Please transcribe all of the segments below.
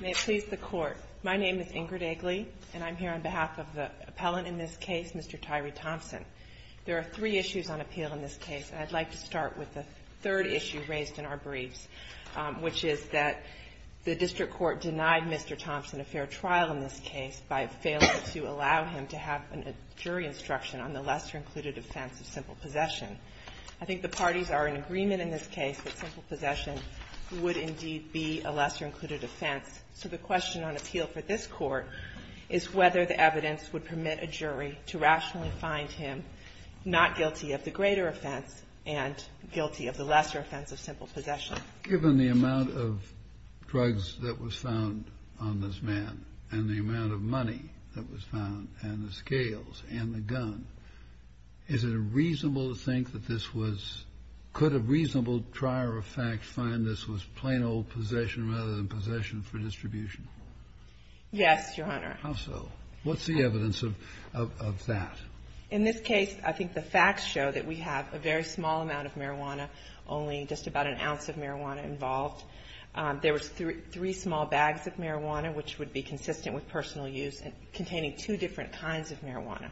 May it please the Court, my name is Ingrid Eggley, and I'm here on behalf of the appellant in this case, Mr. Tyree Thompson. There are three issues on appeal in this case, and I'd like to start with the third issue raised in our briefs, which is that the district court denied Mr. Thompson a fair trial in this case by failing to allow him to have a jury instruction on the lesser-included offense of simple possession. I think the parties are in agreement in this case that simple possession would indeed be a lesser-included offense. So the question on appeal for this Court is whether the evidence would permit a jury to rationally find him not guilty of the greater offense and guilty of the lesser offense of simple possession. Given the amount of drugs that was found on this man and the amount of money that was found and the scales and the gun, is it reasonable to think that this was – could a reasonable trier of facts find this was plain old possession rather than possession for distribution? Yes, Your Honor. How so? What's the evidence of that? In this case, I think the facts show that we have a very small amount of marijuana, only just about an ounce of marijuana involved. There was three small bags of marijuana, which would be consistent with personal use, containing two different kinds of marijuana.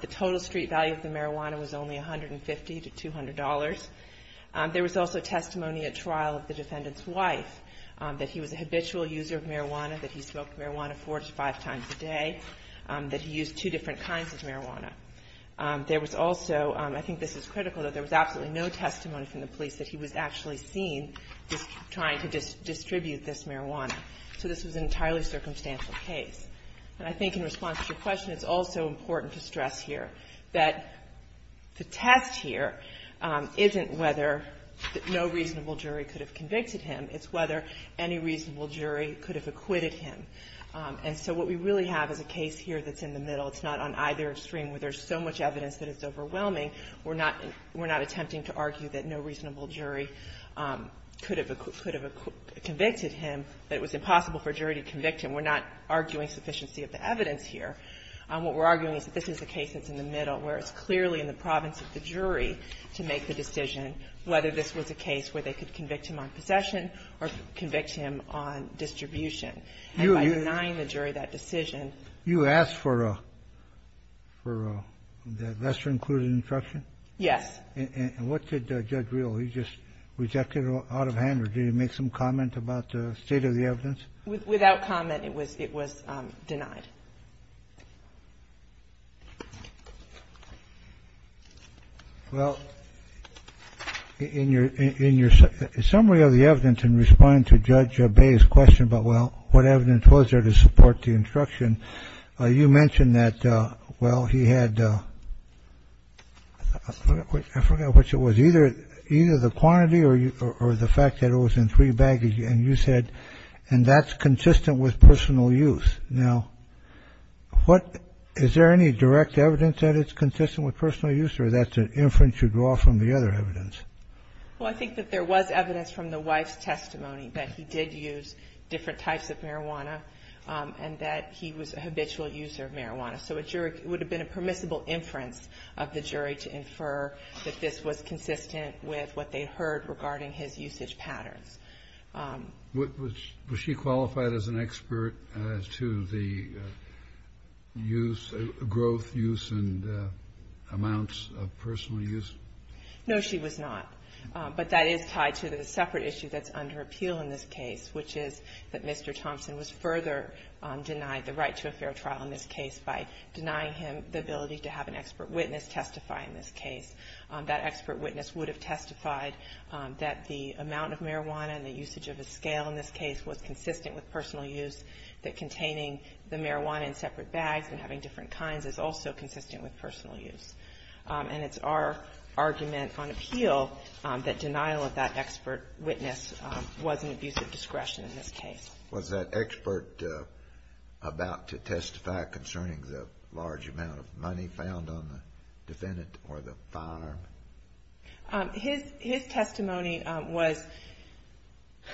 The total street value of the marijuana was only $150 to $200. There was also testimony at trial of the defendant's wife, that he was a habitual user of marijuana, that he smoked marijuana four to five times a day, that he used two different kinds of marijuana. There was also – I think this is critical – that there was absolutely no testimony from the police that he was actually seen trying to distribute this marijuana. So this was an entirely circumstantial case. And I think in response to your question, it's also important to stress here that the test here isn't whether no reasonable jury could have convicted him. It's whether any reasonable jury could have acquitted him. And so what we really have is a case here that's in the middle. It's not on either extreme where there's so much evidence that it's overwhelming. We're not – we're not attempting to argue that no reasonable jury could have convicted him, that it was impossible for a jury to convict him. We're not arguing sufficiency of the evidence here. What we're arguing is that this is a case that's in the middle, where it's clearly in the province of the jury to make the decision whether this was a case where they could convict him on possession or convict him on distribution. And by denying the jury that decision – You asked for a – for a lesser-included instruction? Yes. And what did Judge Reel, he just rejected it out of hand, or did he make some comment about the state of the evidence? Without comment, it was – it was denied. Well, in your – in your summary of the evidence in response to Judge Bayh's question about, well, what evidence was there to support the instruction, you mentioned that, well, he had – I forgot which it was – either the quantity or the fact that it was in three baggage, and you said, and that's consistent with personal use. Now, what – is there any direct evidence that it's consistent with personal use, or that's an inference you draw from the other evidence? Well, I think that there was evidence from the wife's testimony that he did use different types of marijuana and that he was a habitual user of marijuana. So a jury – it would have been a permissible inference of the jury to infer that this was consistent with what they heard regarding his usage patterns. Was she qualified as an expert to the use – growth, use, and amounts of personal use? No, she was not. But that is tied to the separate issue that's under appeal in this case, which is that Mr. Thompson was further denied the right to a fair trial in this case by denying him the ability to have an expert witness testify in this case. That expert witness would have testified that the amount of marijuana and the usage of a scale in this case was consistent with personal use, that containing the marijuana in separate bags and having different kinds is also consistent with personal use. And it's our argument on appeal that denial of that expert witness was an abuse of discretion in this case. Was that expert about to testify concerning the large amount of money found on the defendant or the firearm? His – his testimony was –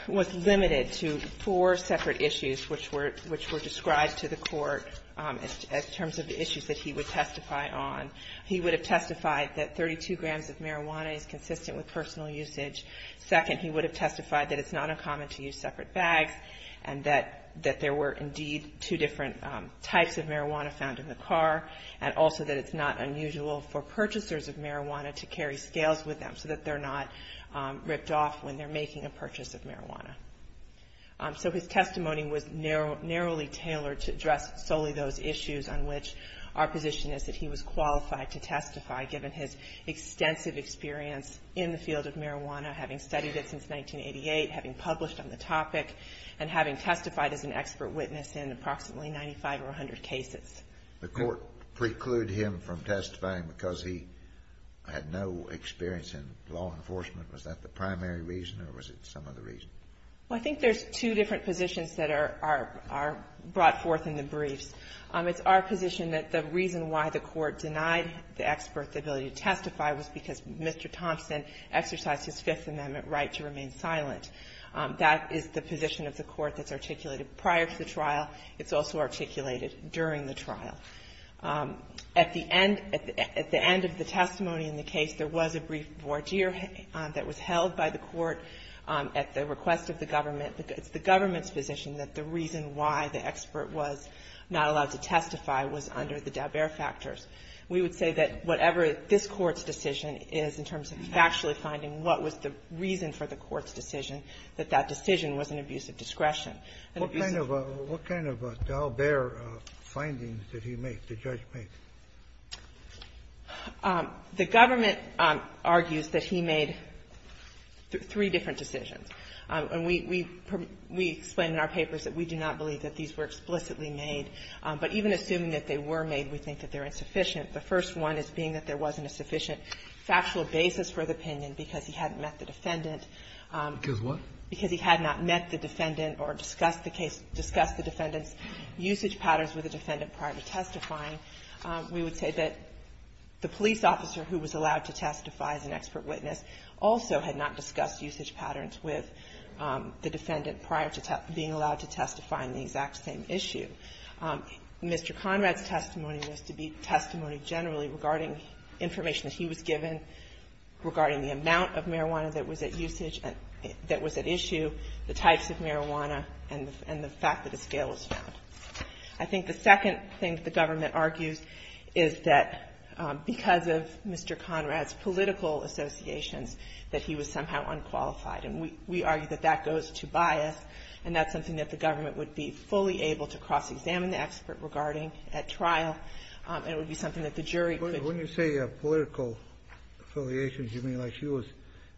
was limited to four separate issues, which were – which were described to the court as terms of the issues that he would testify on. He would have testified that 32 grams of marijuana is consistent with personal usage. Second, he would have testified that it's not uncommon to use separate bags and that – that there were indeed two different types of marijuana found in the car and also that it's not unusual for purchasers of marijuana to carry scales with them so that they're not ripped off when they're making a purchase of marijuana. So his testimony was narrow – narrowly tailored to address solely those issues on which our position is that he was qualified to testify, given his extensive experience in the field of marijuana, having studied it since 1988, having published on the topic, and having testified as an expert witness in approximately 95 or 100 cases. The court precluded him from testifying because he had no experience in law enforcement. Was that the primary reason or was it some other reason? Well, I think there's two different positions that are – are – are brought forth in the briefs. It's our position that the reason why the court denied the expert the ability to testify was because Mr. Thompson exercised his Fifth Amendment right to remain silent. That is the position of the court that's articulated prior to the trial. It's also articulated during the trial. At the end – at the end of the testimony in the case, there was a brief voir dire that was held by the court at the request of the government. It's the government's position that the reason why the expert was not allowed to testify was under the Dalbert factors. We would say that whatever this court's decision is, in terms of factually finding what was the reason for the court's decision, that that decision was an abuse of discretion. What kind of – what kind of Dalbert findings did he make, the judge make? The government argues that he made three different decisions. And we – we explain in our papers that we do not believe that these were explicitly made. But even assuming that they were made, we think that they're insufficient. The first one is being that there wasn't a sufficient factual basis for the opinion because he hadn't met the defendant. Because what? Because he had not met the defendant or discussed the case – discussed the defendant's usage patterns with the defendant prior to testifying. We would say that the police officer who was allowed to testify as an expert witness also had not discussed usage patterns with the defendant prior to being allowed to testify on the exact same issue. Mr. Conrad's testimony was to be testimony generally regarding information that he was given, regarding the amount of marijuana that was at usage – that was at issue, the types of marijuana, and the fact that a scale was found. I think the second thing that the government argues is that because of Mr. Conrad's political associations, that he was somehow unqualified. And we – we argue that that goes to bias. And that's something that the government would be fully able to cross-examine the expert regarding at trial. And it would be something that the jury could – When you say political affiliations, you mean like she was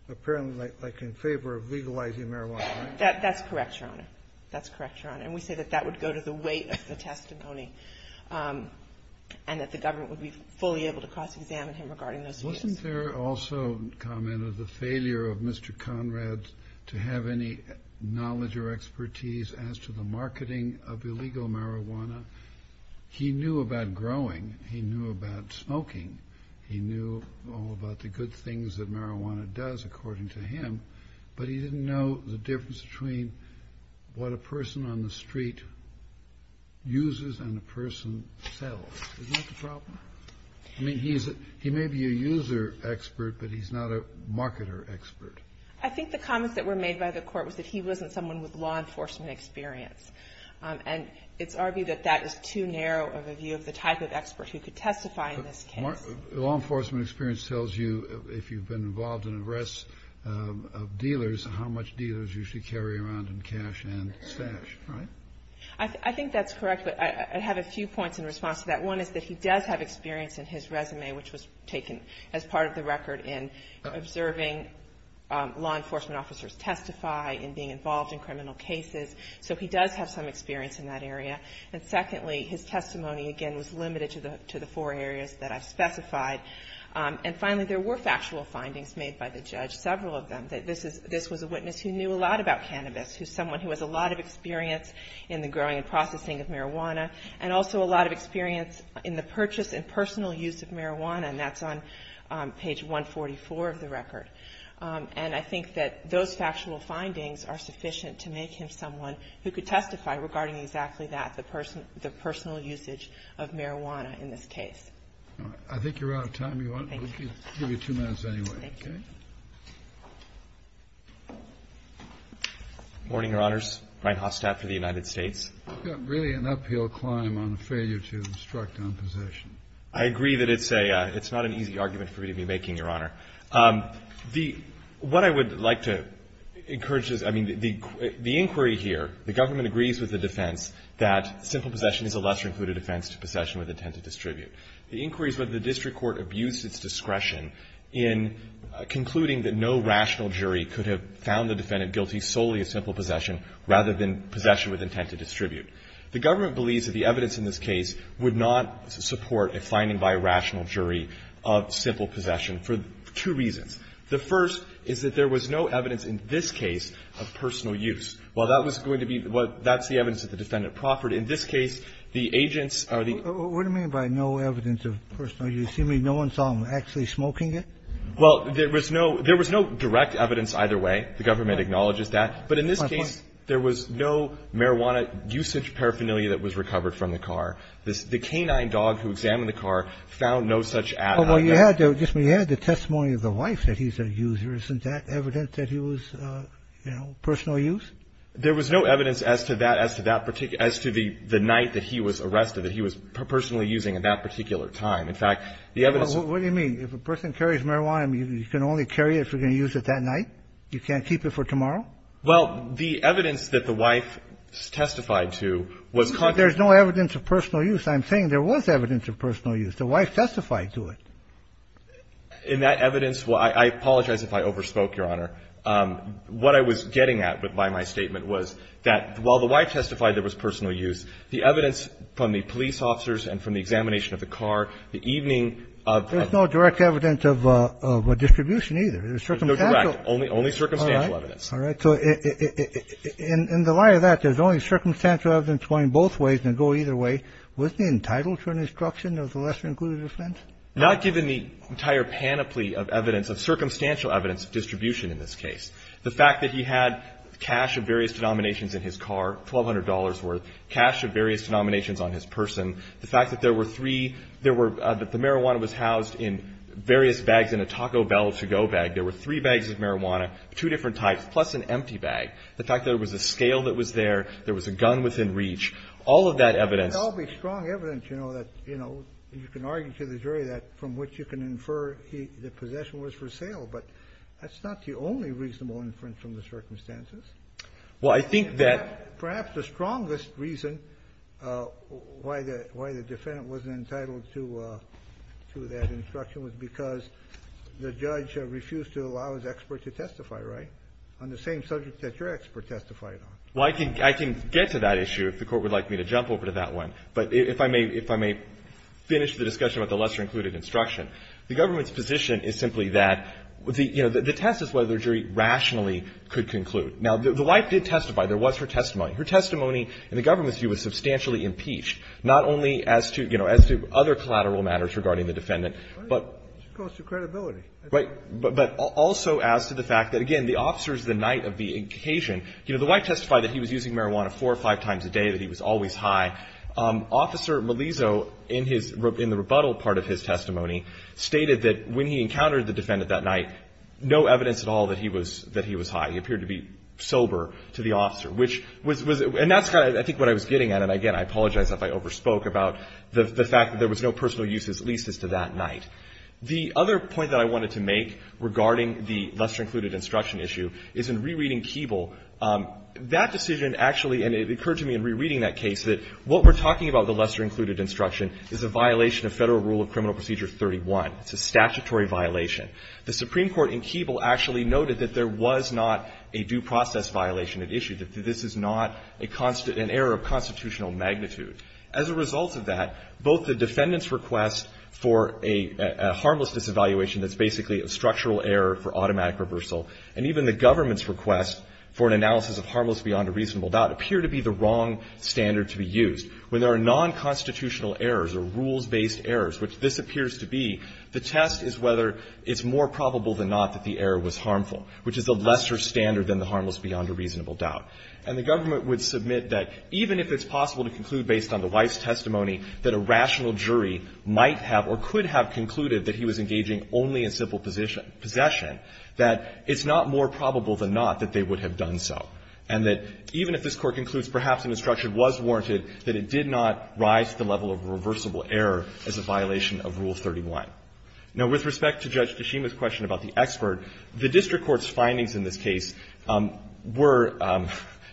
apparently, like, in favor of legalizing marijuana, right? That's correct, Your Honor. That's correct, Your Honor. And we say that that would go to the weight of the testimony, and that the government would be fully able to cross-examine him regarding those issues. Wasn't there also a comment of the failure of Mr. Conrad to have any knowledge or expertise as to the marketing of illegal marijuana? He knew about growing. He knew about smoking. He knew all about the good things that marijuana does, according to him. But he didn't know the difference between what a person on the street uses and a person sells. Isn't that the problem? I mean, he may be a user expert, but he's not a marketer expert. I think the comments that were made by the Court was that he wasn't someone with law enforcement experience. And it's argued that that is too narrow of a view of the type of expert who could testify in this case. Law enforcement experience tells you, if you've been involved in arrests of dealers, how much dealers usually carry around in cash and stash, right? I think that's correct, but I have a few points in response to that. One is that he does have experience in his resume, which was taken as part of the record in observing law enforcement officers testify, in being involved in criminal cases. So he does have some experience in that area. And secondly, his testimony, again, was limited to the four areas that I've specified. And finally, there were factual findings made by the judge, several of them, that this was a witness who knew a lot about cannabis, who's someone who has a lot of experience in the growing and processing of marijuana, and also a lot of experience in the purchase and personal use of marijuana. And that's on page 144 of the record. And I think that those factual findings are sufficient to make him someone who could testify regarding exactly that, the personal usage of marijuana in this case. I think you're out of time. We'll give you two minutes anyway. Thank you. Good morning, Your Honors. Brian Hostadt for the United States. You've got really an uphill climb on the failure to instruct on possession. I agree that it's not an easy argument for me to be making, Your Honor. What I would like to encourage is, I mean, the inquiry here, the government agrees with the defense that simple possession is a lesser included offense to possession with intent to distribute. The inquiry is whether the district court abused its discretion in concluding that no rational jury could have found the defendant guilty solely of simple possession rather than possession with intent to distribute. The government believes that the evidence in this case would not support a finding by a rational jury of simple possession for two reasons. The first is that there was no evidence in this case of personal use. While that's the evidence that the defendant proffered, in this case, the agents are the... What do you mean by no evidence of personal use? You mean no one saw him actually smoking it? Well, there was no direct evidence either way. The government acknowledges that. But in this case, there was no marijuana usage paraphernalia that was recovered from the car. The canine dog who examined the car found no such add... Well, you had the testimony of the wife that he's a user. Isn't that evidence that he was, you know, personal use? There was no evidence as to that, as to the night that he was arrested, that he was personally using at that particular time. In fact, the evidence... What do you mean? If a person carries marijuana, you can only carry it if you're going to use it that night? You can't keep it for tomorrow? Well, the evidence that the wife testified to was... You said there's no evidence of personal use. I'm saying there was evidence of personal use. The wife testified to it. In that evidence, I apologize if I overspoke, Your Honor. What I was getting at by my statement was that while the wife testified there was personal use, the evidence from the police officers and from the examination of the car, the evening of... There's no direct evidence of distribution either. There's no direct. Only circumstantial evidence. All right. So in the light of that, there's only circumstantial evidence going both ways and go either way. Wasn't he entitled to an instruction of the lesser-included offense? Not given the entire panoply of evidence, of circumstantial evidence of distribution in this case. The fact that he had cash of various denominations in his car, $1,200 worth, cash of various denominations on his person. The fact that there were three... That the marijuana was housed in various bags in a Taco Bell to-go bag. There were three bags of marijuana, two different types, plus an empty bag. The fact that there was a scale that was there. There was a gun within reach. All of that evidence... That would be strong evidence, you know, that, you know, you can argue to the jury that from which you can infer the possession was for sale. But that's not the only reasonable inference from the circumstances. Well, I think that... Perhaps the strongest reason why the defendant wasn't entitled to that instruction was because the judge refused to allow his expert to testify, right? On the same subject that your expert testified on. Well, I can get to that issue if the Court would like me to jump over to that one. But if I may finish the discussion about the lesser-included instruction, the government's position is simply that the test is whether the jury rationally could conclude. Now, the wife did testify. There was her testimony. Her testimony in the government's view was substantially impeached, not only as to, you know, as to other collateral matters regarding the defendant, but... It's a question of credibility. Right. But also as to the fact that, again, the officer's the night of the occasion. You know, the wife testified that he was using marijuana four or five times a day, that he was always high. Officer Melizzo, in the rebuttal part of his testimony, stated that when he encountered the defendant that night, no evidence at all that he was high. He appeared to be sober to the officer, which was... And that's kind of, I think, what I was getting at. And again, I apologize if I overspoke about the fact that there was no personal use, at least as to that night. The other point that I wanted to make regarding the lesser-included instruction issue is in rereading Keeble, that decision actually, and it occurred to me in rereading that case, that what we're talking about with the lesser-included instruction is a violation of Federal Rule of Criminal Procedure 31. It's a statutory violation. The Supreme Court in Keeble actually noted that there was not a due process violation at issue, that this is not an error of constitutional magnitude. As a result of that, both the defendant's request for a harmless disevaluation that's basically a structural error for automatic reversal, and even the government's request for an analysis of harmless beyond a reasonable doubt appear to be the wrong standard to be used. When there are nonconstitutional errors or rules-based errors, which this appears to be, the test is whether it's more probable than not that the error was harmful, which is a lesser standard than the harmless beyond a reasonable doubt. And the government would submit that even if it's possible to conclude based on the wife's testimony that a rational jury might have or could have concluded that he was engaging only in civil possession, that it's not more probable than not that they would have done so, and that even if this Court concludes perhaps an instruction was warranted, that it did not rise to the level of a reversible error as a violation of Rule 31. Now, with respect to Judge Tashima's question about the expert, the district court's findings in this case were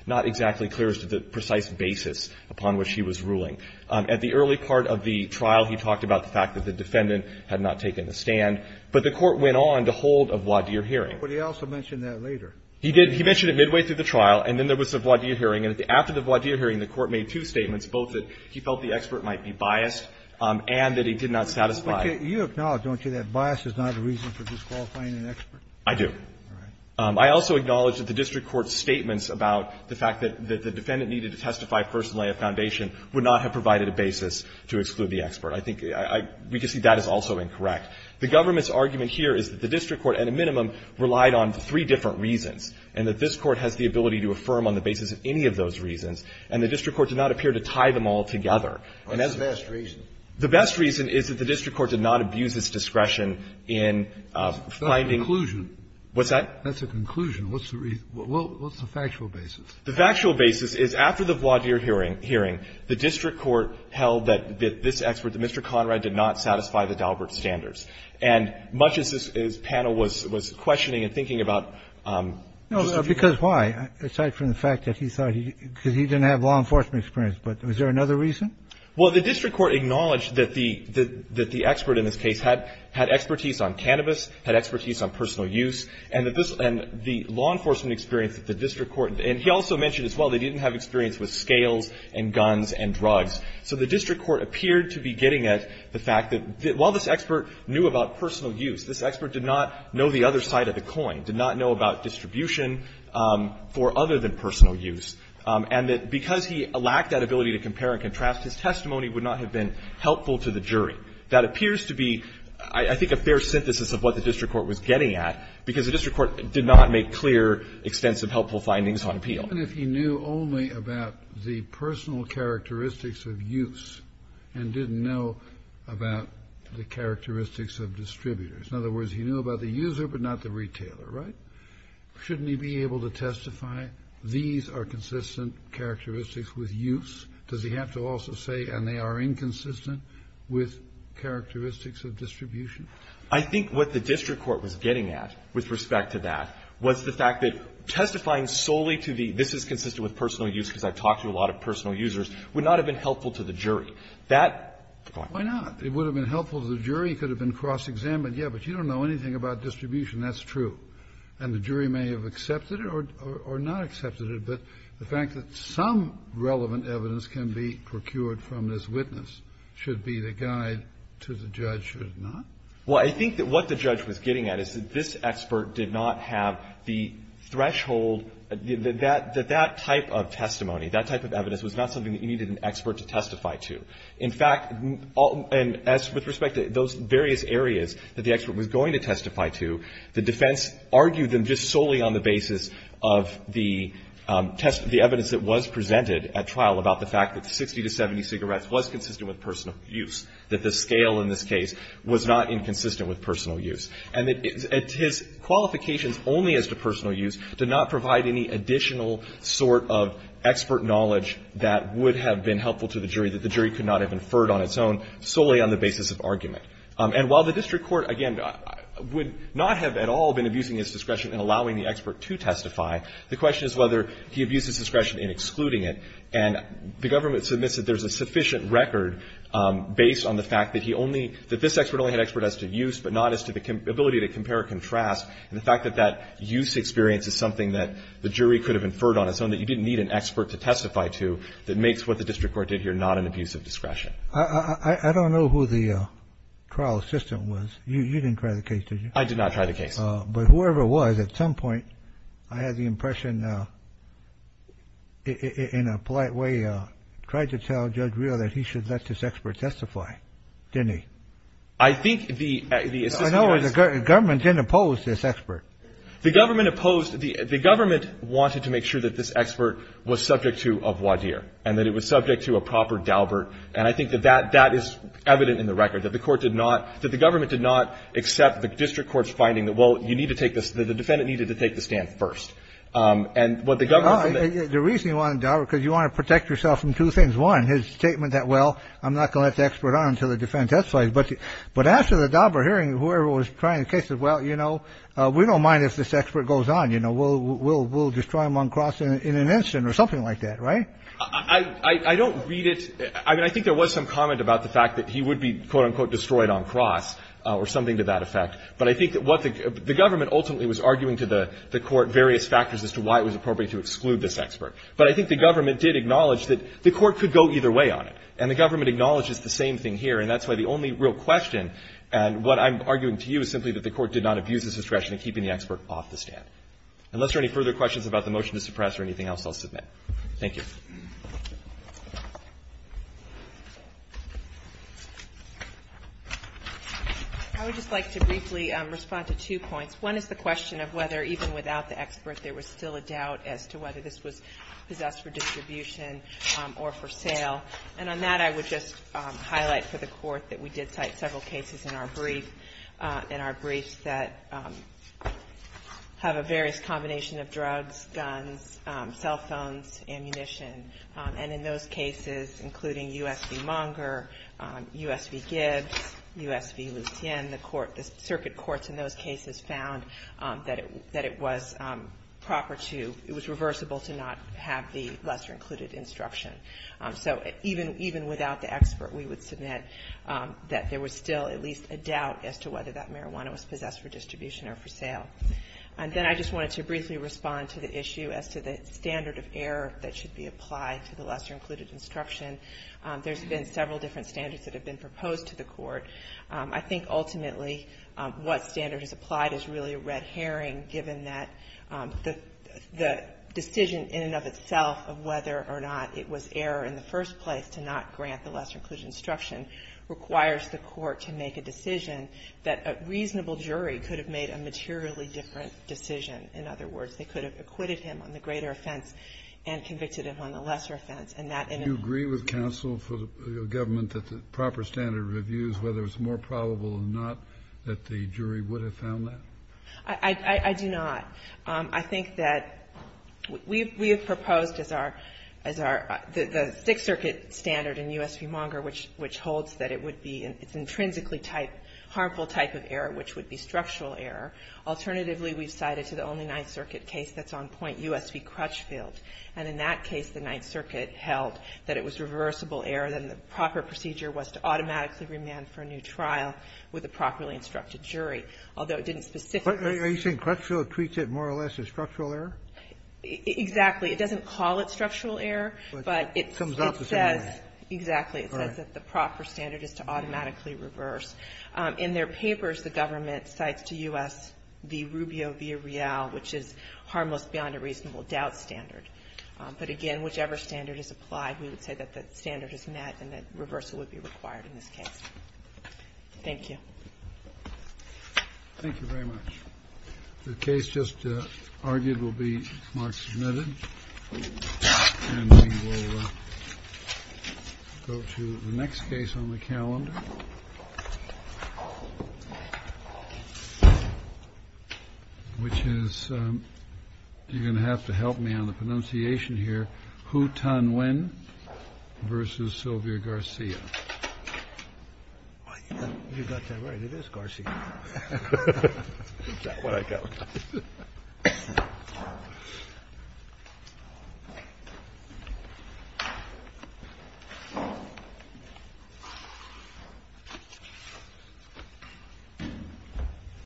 not exactly clear as to the precise basis upon which he was ruling. At the early part of the trial, he talked about the fact that the defendant had not taken the stand, but the Court went on to hold a voir dire hearing. But he also mentioned that later. He did. He mentioned it midway through the trial, and then there was a voir dire hearing. And after the voir dire hearing, the Court made two statements, both that he felt the expert might be biased and that he did not satisfy. You acknowledge, don't you, that bias is not a reason for disqualifying an expert? I do. I also acknowledge that the district court's statements about the fact that the defendant needed to testify first and lay a foundation would not have provided a basis to exclude the expert. I think we can see that is also incorrect. The government's argument here is that the district court, at a minimum, relied on three different reasons, and that this Court has the ability to affirm on the basis of any of those reasons, and the district court did not appear to tie them all together. The best reason is that the district court did not abuse its discretion in finding What's that? That's a conclusion. What's the factual basis? The factual basis is after the voir dire hearing, the district court held that this expert, that Mr. Conrad, did not satisfy the Daubert standards. And much as this panel was questioning and thinking about the dispute. No, because why? Aside from the fact that he thought he didn't have law enforcement experience. But was there another reason? Well, the district court acknowledged that the expert in this case had expertise on cannabis, had expertise on personal use, and the law enforcement experience that the district court. And he also mentioned as well that he didn't have experience with scales and guns and drugs. So the district court appeared to be getting at the fact that while this expert knew about personal use, this expert did not know the other side of the coin, did not know about distribution for other than personal use, and that because he lacked that ability to compare and contrast, his testimony would not have been helpful to the jury. That appears to be, I think, a fair synthesis of what the district court was getting at because the district court did not make clear extensive helpful findings on appeal. Even if he knew only about the personal characteristics of use and didn't know about the characteristics of distributors, in other words, he knew about the user but not the retailer, right? Shouldn't he be able to testify these are consistent characteristics with use? Does he have to also say, and they are inconsistent with characteristics of distribution? I think what the district court was getting at with respect to that was the fact that testifying solely to the, this is consistent with personal use because I've talked to a lot of personal users, would not have been helpful to the jury. Why not? It would have been helpful to the jury. It could have been cross-examined. Yeah, but you don't know anything about distribution. That's true. And the jury may have accepted it or not accepted it, but the fact that some relevant evidence can be procured from this witness should be the guide to the judge, should it not? Well, I think that what the judge was getting at is that this expert did not have the threshold, that that type of testimony, that type of evidence was not something that you needed an expert to testify to. In fact, and as with respect to those various areas that the expert was going to testify to, the defense argued them just solely on the basis of the evidence that was presented at trial about the fact that 60 to 70 cigarettes was consistent with personal use, that the scale in this case was not inconsistent with personal use, and that his qualifications only as to personal use did not provide any additional sort of expert knowledge that would have been helpful to the jury, that the jury could not have inferred on its own, solely on the basis of argument. And while the district court, again, would not have at all been abusing its discretion in allowing the expert to testify, the question is whether he abuses discretion in excluding it, and the government submits that there's a sufficient record based on the fact that he only, that this expert only had expert as to use, but not as to the ability to compare or contrast, and the fact that that use experience is something that the jury could have inferred on its own, that you didn't need an expert to testify to, that makes what the district court did here not an abuse of discretion. I don't know who the trial assistant was. You didn't try the case, did you? I did not try the case. But whoever it was, at some point, I had the impression, in a polite way, tried to tell Judge Real that he should let this expert testify, didn't he? I think the assistant was... No, the government didn't oppose this expert. The government opposed, the government wanted to make sure that this expert was subject to a voir dire, and that it was subject to a proper daubert, and I think that that is evident in the record, that the court did not, that the government did not accept the district court's finding that, well, you need to take this, the defendant needed to take the stand first. And what the government... The reason you wanted daubert, because you want to protect yourself from two things. One, his statement that, well, I'm not going to let the expert on until the defendant testifies. But after the daubert hearing, whoever was trying the case said, well, you know, we don't mind if this expert goes on, you know, we'll destroy him on cross in an instant, or something like that, right? I don't read it, I mean, I think there was some comment about the fact that he would be, quote-unquote, destroyed on cross, or something to that effect, but I think that what the... The government ultimately was arguing to the court various factors as to why it was appropriate to exclude this expert. But I think the government did acknowledge that the court could go either way on it, and the government acknowledges the same thing here, and that's why the only real question, and what I'm arguing to you is simply that the court did not abuse its discretion in keeping the expert off the stand. Unless there are any further questions about the motion to suppress or anything else, I'll submit. Thank you. I would just like to briefly respond to two points. One is the question of whether, even without the expert, there was still a doubt as to whether this was possessed for distribution or for sale. And on that, I would just highlight for the court that we did cite several cases in our briefs that have a various combination of drugs, guns, cell phones, ammunition, and in those cases, including U.S. v. Munger, U.S. v. Gibbs, U.S. v. Lucien, the circuit courts in those cases found that it was proper to, it was reversible to not have the lesser-included instruction. So even without the expert, we would submit that there was still at least a doubt as to whether that marijuana was possessed for distribution or for sale. And then I just wanted to briefly respond to the issue as to the standard of error that should be applied to the lesser-included instruction. There's been several different standards that have been proposed to the court. I think ultimately what standard is applied is really a red herring given that the decision in and of itself of whether or not it was error in the first place to not grant the lesser-included instruction requires the court to make a decision that a reasonable jury could have made a materially different decision. In other words, they could have acquitted him on the greater offense and convicted him on the lesser offense. And that in and of itself. Kennedy. Do you agree with counsel for the government that the proper standard of reviews, whether it's more probable or not, that the jury would have found that? I do not. I think that we have proposed as our, the Sixth Circuit standard in U.S. v. Munger, which holds that it would be, it's intrinsically type, harmful type of error, which would be structural error. Alternatively, we've cited to the only Ninth Circuit case that's on point, U.S. v. Crutchfield. And in that case, the Ninth Circuit held that it was reversible error, then the proper procedure was to automatically remand for a new trial with a properly instructed jury, although it didn't specifically. Are you saying Crutchfield treats it more or less as structural error? Exactly. It doesn't call it structural error, but it says. Exactly. It says that the proper standard is to automatically reverse. In their papers, the government cites to U.S. v. Rubio v. Real, which is harmless beyond a reasonable doubt standard. But again, whichever standard is applied, we would say that the standard is met and that reversal would be required in this case. Thank you. Thank you very much. The case just argued will be marked submitted. And we will go to the next case on the calendar, which is you're going to have to help me on the pronunciation here. Hu Tan Nguyen v. Sylvia Garcia. You got that right. It is Garcia. Is that what I got right?